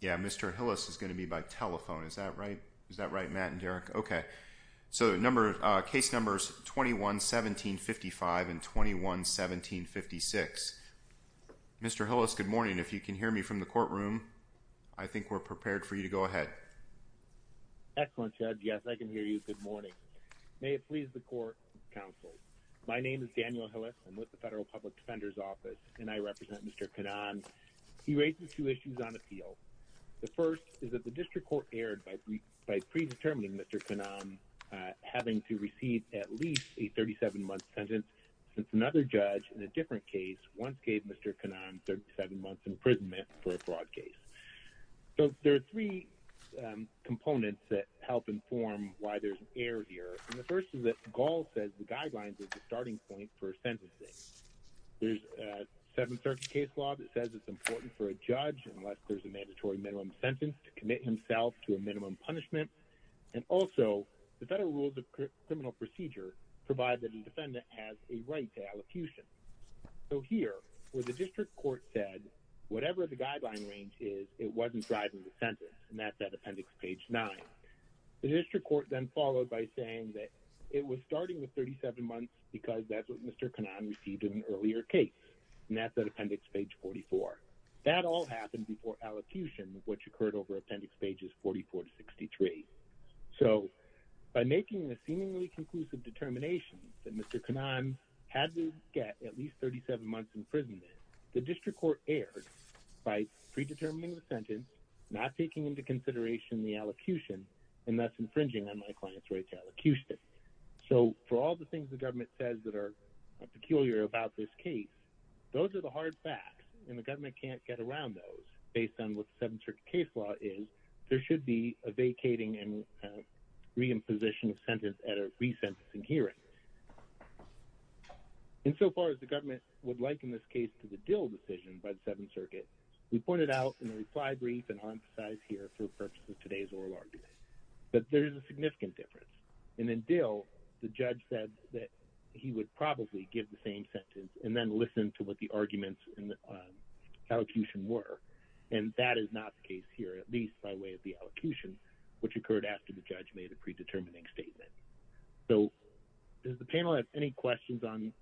Yeah, Mr. Hillis is going to be by telephone. Is that right? Is that right, Matt and Derek? Okay. So the number of case numbers 21-17-55 and 21-17-56. Mr. Hillis, good morning. If you can hear me from the courtroom, I think we're prepared for you to go ahead. Excellent, Judge. Yes, I can hear you. Good morning. May it please the court, counsel. My name is Daniel Hillis. I'm with the Federal Public Defender's Office, and I represent Mr. Kanan. He raises two issues on appeal. The first is that the district court erred by predetermining Mr. Kanan having to receive at least a 37-month sentence since another judge in a different case once gave Mr. Kanan 37 months imprisonment for a fraud case. So there are three components that help inform why there's an error here. And the first is that Gall says the guidelines are the starting point for sentencing. There's a Seventh Circuit case law that says it's important for a judge, unless there's a mandatory minimum sentence, to commit himself to a minimum punishment. And also, the federal rules of criminal procedure provide that a defendant has a right to allocution. So here, where the district court said, whatever the guideline range is, it wasn't driving the sentence, and that's at Appendix Page 9. The district court then followed by saying that it was starting with 37 months because that's what Mr. Kanan received in an earlier case, and that's at Appendix Page 44. That all happened before allocution, which occurred over Appendix Pages 44 to 63. So, by making a seemingly conclusive determination that Mr. Kanan had to get at least 37 months imprisonment, the district court erred by predetermining the sentence, not taking into consideration the allocution, and thus infringing on my client's right to allocution. So, for all the things the government says that are peculiar about this case, those are the hard facts, and the government can't get around those based on what the Seventh Circuit case law is. There should be a vacating and reimposition of sentence at a resentencing hearing. Insofar as the government would liken this case to the Dill decision by the Seventh Circuit, we pointed out in a reply brief, and I'll emphasize here for the purposes of today's oral argument, that there is a significant difference. And in Dill, the judge said that he would probably give the same sentence and then listen to what the arguments in the allocution were, and that is not the case here, at least by way of the allocution, which occurred after the judge made a predetermining statement. So, does the panel have any questions on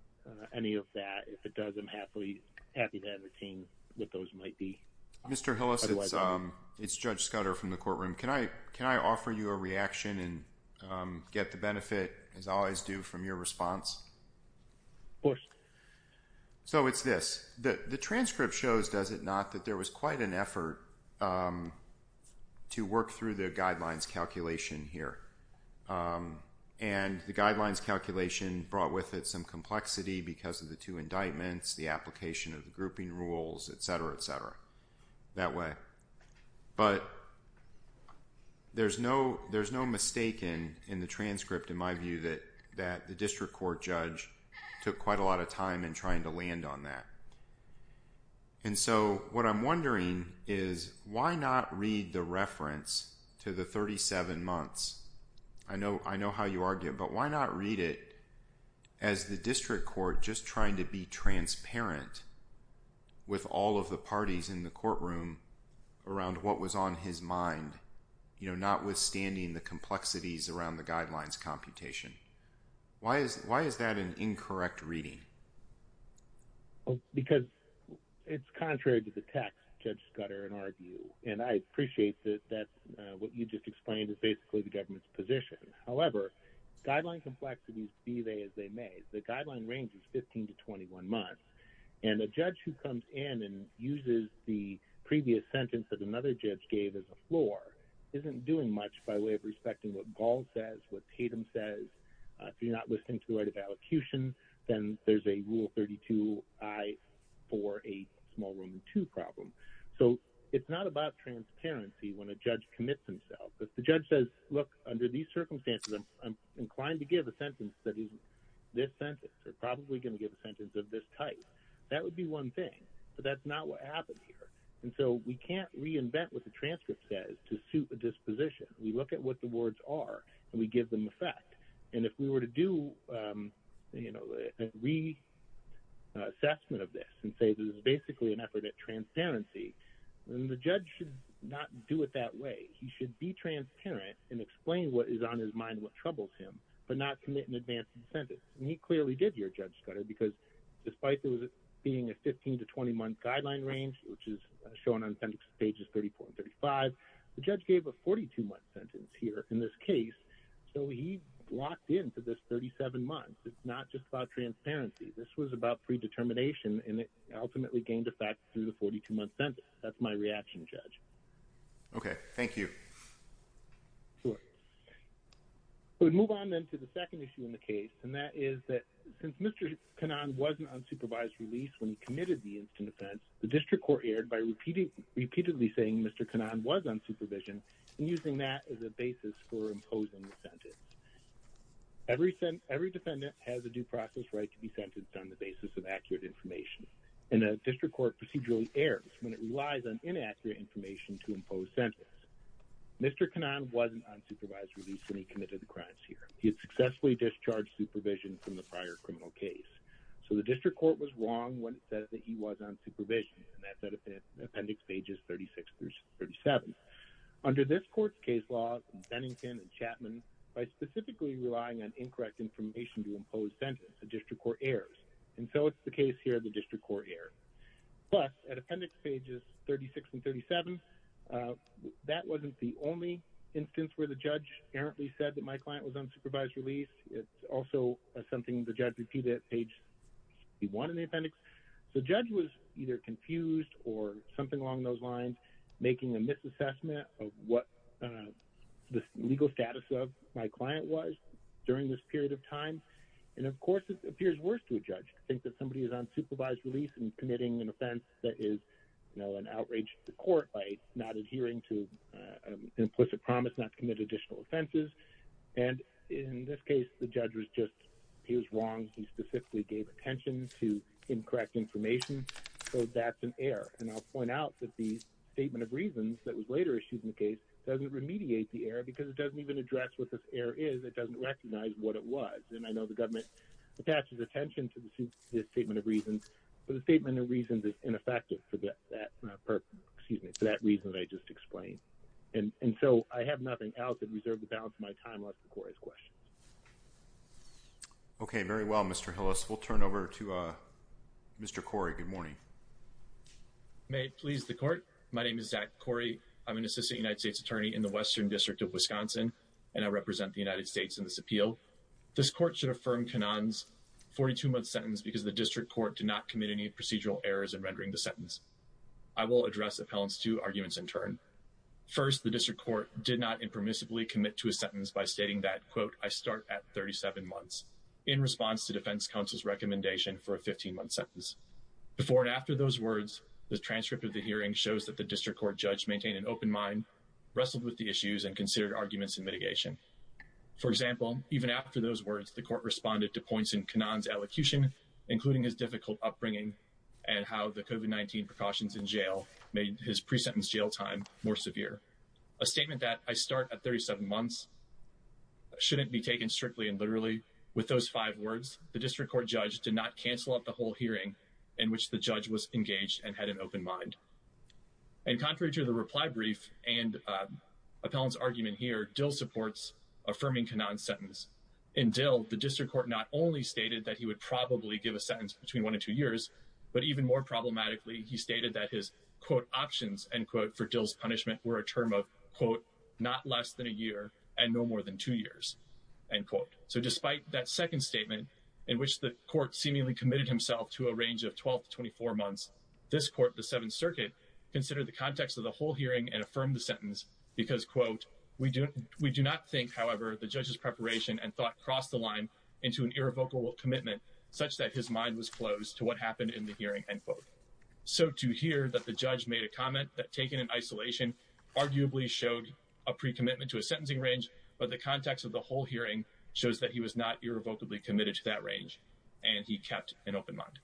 any of that? If it does, I'm happy to entertain what those might be. Mr. Hillis, it's Judge Scudder from the courtroom. Can I offer you a reaction and get the benefit, as I always do, from your response? Of course. So it's this. The transcript shows, does it not, that there was quite an effort to work through the guidelines calculation here. And the guidelines calculation brought with it some complexity because of the two indictments, the application of the grouping rules, etc., etc., that way. But there's no mistake in the transcript, in my view, that the district court judge took quite a lot of time in trying to land on that. And so what I'm wondering is, why not read the reference to the 37 months? I know how you argue, but why not read it as the district court just trying to be transparent with all of the parties in the courtroom around what was on his mind, notwithstanding the complexities around the guidelines computation? Why is that an incorrect reading? Because it's contrary to the text, Judge Scudder, in our view. And I appreciate that what you just explained is basically the government's position. However, guideline complexities be they as they may. The guideline range is 15 to 21 months. And a judge who comes in and uses the previous sentence that another judge gave as a floor isn't doing much by way of respecting what Gall says, what Tatum says. If you're not listening to the right of allocution, then there's a Rule 32-I-4-8 Small Room 2 problem. So it's not about transparency when a judge commits himself. If the judge says, look, under these circumstances, I'm inclined to give a sentence that is this sentence or probably going to give a sentence of this type, that would be one thing. But that's not what happened here. And so we can't reinvent what the transcript says to suit the disposition. We look at what the words are, and we give them effect. And if we were to do a reassessment of this and say this is basically an effort at transparency, then the judge should not do it that way. He should be transparent and explain what is on his mind, what troubles him, but not commit an advanced sentence. And he clearly did here, Judge Scudder, because despite there being a 15 to 20-month guideline range, which is shown on pages 34 and 35, the judge gave a 42-month sentence here in this case. So he locked in for this 37 months. It's not just about transparency. This was about predetermination, and it ultimately gained effect through the 42-month sentence. That's my reaction, Judge. Okay. Thank you. Sure. We'll move on then to the second issue in the case, and that is that since Mr. Cannon wasn't on supervised release when he committed the instant offense, the district court erred by repeatedly saying Mr. Cannon was on supervision and using that as a basis for imposing the sentence. Every defendant has a due process right to be sentenced on the basis of accurate information, and a district court procedurally errs when it relies on inaccurate information to impose sentence. Mr. Cannon wasn't on supervised release when he committed the crimes here. He had successfully discharged supervision from the prior criminal case. So the district court was wrong when it said that he was on supervision, and that's at Appendix Pages 36 through 37. Under this court's case law, Bennington and Chapman, by specifically relying on incorrect information to impose sentence, a district court errs. And so it's the case here the district court errs. Plus, at Appendix Pages 36 and 37, that wasn't the only instance where the judge errantly said that my client was on supervised release. It's also something the judge repeated at Page 1 in the appendix. So the judge was either confused or something along those lines, making a misassessment of what the legal status of my client was during this period of time. And, of course, it appears worse to a judge to think that somebody is on supervised release and committing an offense that is, you know, an outrage to the court by not adhering to an implicit promise not to commit additional offenses. And in this case, the judge was just he was wrong. He specifically gave attention to incorrect information. So that's an error. And I'll point out that the statement of reasons that was later issued in the case doesn't remediate the error because it doesn't even address what this error is. It doesn't recognize what it was. And I know the government attaches attention to this statement of reasons. But the statement of reasons is ineffective for that reason that I just explained. And so I have nothing else to reserve the balance of my time left for Corey's questions. Okay, very well, Mr. Hillis. We'll turn over to Mr. Corey. Good morning. May it please the court. My name is Zach Corey. I'm an assistant United States attorney in the Western District of Wisconsin, and I represent the United States in this appeal. This court should affirm Kannon's 42-month sentence because the district court did not commit any procedural errors in rendering the sentence. I will address appellant's two arguments in turn. First, the district court did not impermissibly commit to a sentence by stating that, quote, I start at 37 months in response to defense counsel's recommendation for a 15-month sentence. Before and after those words, the transcript of the hearing shows that the district court judge maintained an open mind, wrestled with the issues, and considered arguments in mitigation. For example, even after those words, the court responded to points in Kannon's elocution, including his difficult upbringing and how the COVID-19 precautions in jail made his pre-sentence jail time more severe. A statement that I start at 37 months shouldn't be taken strictly and literally. With those five words, the district court judge did not cancel out the whole hearing in which the judge was engaged and had an open mind. And contrary to the reply brief and appellant's argument here, Dill supports affirming Kannon's sentence. In Dill, the district court not only stated that he would probably give a sentence between one and two years, but even more problematically, he stated that his, quote, options, end quote, for Dill's punishment were a term of, quote, not less than a year and no more than two years, end quote. So despite that second statement in which the court seemingly committed himself to a range of 12 to 24 months, this court, the Seventh Circuit, considered the context of the whole hearing and affirmed the sentence because, quote, we do not think, however, the judge's preparation and thought crossed the line into an irrevocable commitment such that his mind was closed to what happened in the hearing, end quote. So to hear that the judge made a comment that, taken in isolation, arguably showed a pre-commitment to a sentencing range, but the context of the whole hearing shows that he was not irrevocably committed to that range and he kept an open mind.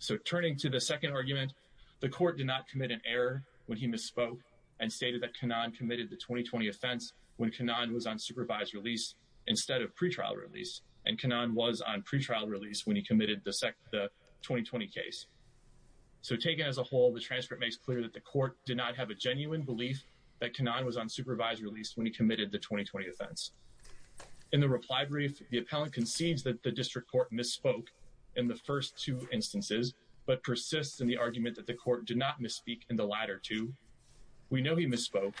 So turning to the second argument, the court did not commit an error when he misspoke and stated that Kannon committed the 2020 offense when Kannon was on supervised release instead of pretrial release, and Kannon was on pretrial release when he committed the 2020 case. So taken as a whole, the transcript makes clear that the court did not have a genuine belief that Kannon was on supervised release when he committed the 2020 offense. In the reply brief, the appellant concedes that the district court misspoke in the first two instances but persists in the argument that the court did not misspeak in the latter two. We know he misspoke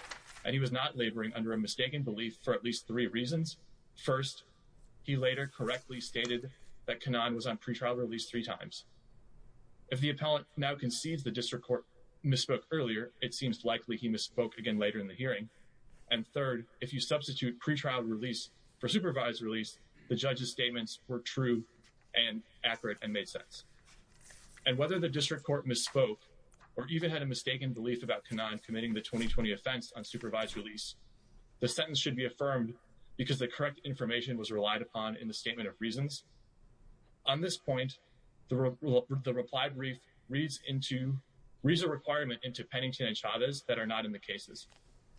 and he was not laboring under a mistaken belief for at least three reasons. First, he later correctly stated that Kannon was on pretrial release three times. If the appellant now concedes the district court misspoke earlier, it seems likely he misspoke again later in the hearing. And third, if you substitute pretrial release for supervised release, the judge's statements were true and accurate and made sense. And whether the district court misspoke or even had a mistaken belief about Kannon committing the 2020 offense on supervised release, the sentence should be affirmed because the correct information was relied upon in the statement of reasons. On this point, the reply brief reads a requirement into Pennington and Chavez that are not in the cases.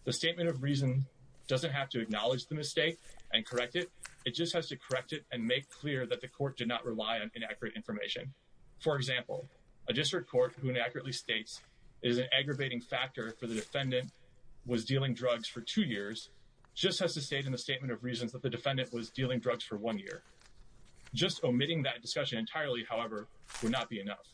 The statement of reason doesn't have to acknowledge the mistake and correct it. It just has to correct it and make clear that the court did not rely on inaccurate information. For example, a district court who inaccurately states it is an aggravating factor for the defendant was dealing drugs for two years just has to state in the statement of reasons that the defendant was dealing drugs for one year. Just omitting that discussion entirely, however, would not be enough.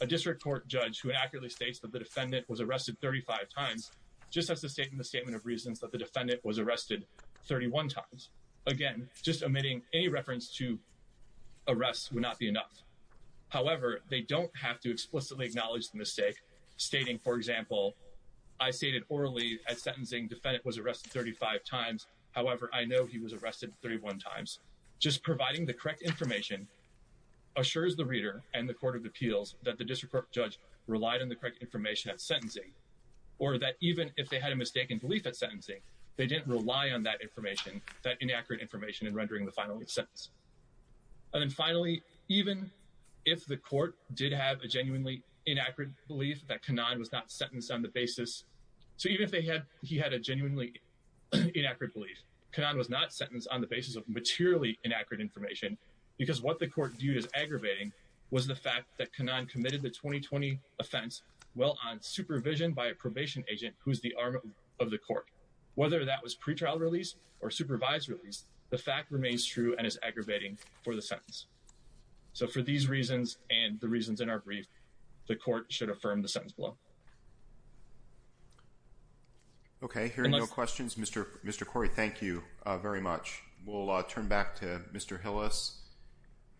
A district court judge who inaccurately states that the defendant was arrested 35 times just has to state in the statement of reasons that the defendant was arrested 31 times. Again, just omitting any reference to arrests would not be enough. However, they don't have to explicitly acknowledge the mistake, stating, for example, I stated orally at sentencing the defendant was arrested 35 times. However, I know he was arrested 31 times. Just providing the correct information assures the reader and the court of appeals that the district court judge relied on the correct information at sentencing or that even if they had a mistaken belief at sentencing, they didn't rely on that information, that inaccurate information in rendering the final sentence. And then finally, even if the court did have a genuinely inaccurate belief that Kanaan was not sentenced on the basis, so even if he had a genuinely inaccurate belief, Kanaan was not sentenced on the basis of materially inaccurate information because what the court viewed as aggravating was the fact that Kanaan committed the 2020 offense while on supervision by a probation agent who is the arm of the court. Whether that was pretrial release or supervised release, the fact remains true and is aggravating for the sentence. So for these reasons and the reasons in our brief, the court should affirm the sentence below. Okay, hearing no questions, Mr. Corey, thank you very much. We'll turn back to Mr. Hillis.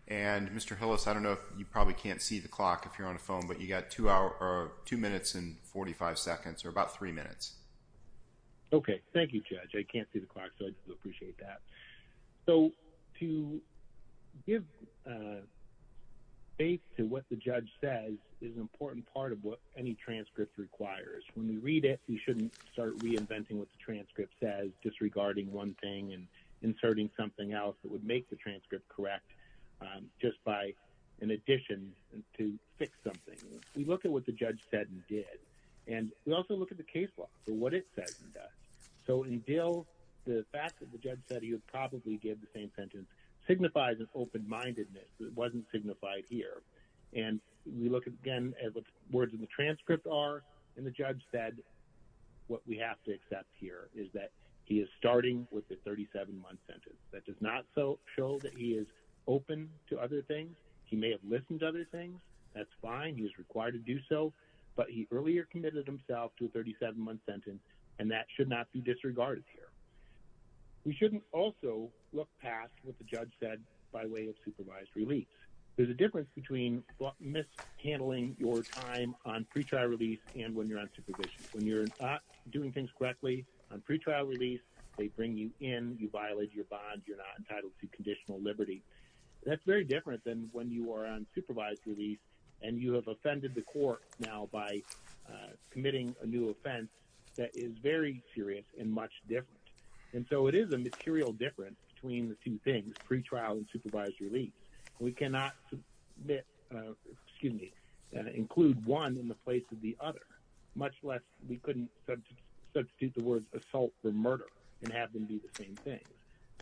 And Mr. Hillis, I don't know if you probably can't see the clock if you're on the phone, but you got two minutes and 45 seconds or about three minutes. Okay, thank you, Judge. I can't see the clock, so I do appreciate that. So to give faith to what the judge says is an important part of what any transcript requires. When you read it, you shouldn't start reinventing what the transcript says, disregarding one thing and inserting something else that would make the transcript correct just by an addition to fix something. We look at what the judge said and did, and we also look at the case law for what it says and does. So in Dill, the fact that the judge said he would probably give the same sentence signifies an open-mindedness that wasn't signified here. And we look again at what the words in the transcript are. And the judge said what we have to accept here is that he is starting with the 37-month sentence. That does not show that he is open to other things. He may have listened to other things. That's fine. He was required to do so. But he earlier committed himself to a 37-month sentence, and that should not be disregarded here. We shouldn't also look past what the judge said by way of supervised release. There's a difference between mishandling your time on pretrial release and when you're on supervision. When you're not doing things correctly on pretrial release, they bring you in, you violate your bond, you're not entitled to conditional liberty. That's very different than when you are on supervised release and you have offended the court now by committing a new offense that is very serious and much different. And so it is a material difference between the two things, pretrial and supervised release. We cannot include one in the place of the other, much less we couldn't substitute the word assault for murder and have them be the same thing.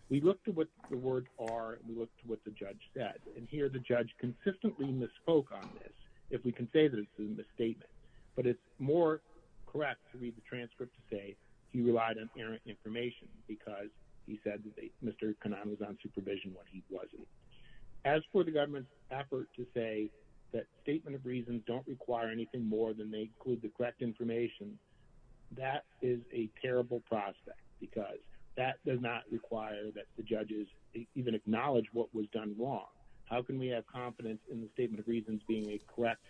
We look to what the words are and we look to what the judge said. And here the judge consistently misspoke on this, if we can say that it's a misstatement. But it's more correct to read the transcript to say he relied on errant information because he said that Mr. Kanan was on supervision when he wasn't. As for the government's effort to say that statement of reasons don't require anything more than they include the correct information, that is a terrible prospect because that does not require that the judges even acknowledge what was done wrong. How can we have confidence in the statement of reasons being a correct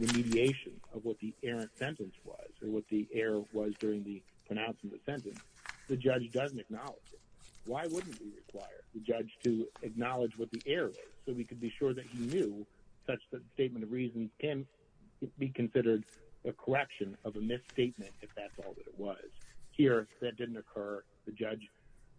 remediation of what the errant sentence was or what the error was during the pronouncement of the sentence? The judge doesn't acknowledge it. Why wouldn't we require the judge to acknowledge what the error was so we could be sure that he knew such that the statement of reasons can be considered a correction of a misstatement if that's all that it was? Here, that didn't occur. The judge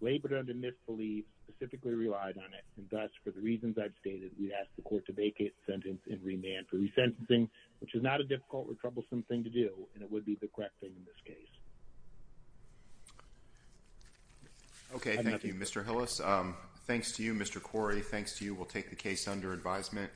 labored under misbelief, specifically relied on it. And thus, for the reasons I've stated, we ask the court to vacate the sentence in remand for resentencing, which is not a difficult or troublesome thing to do. And it would be the correct thing in this case. OK, thank you, Mr. Hillis. Thanks to you, Mr. Corey. Thanks to you, we'll take the case under advisement.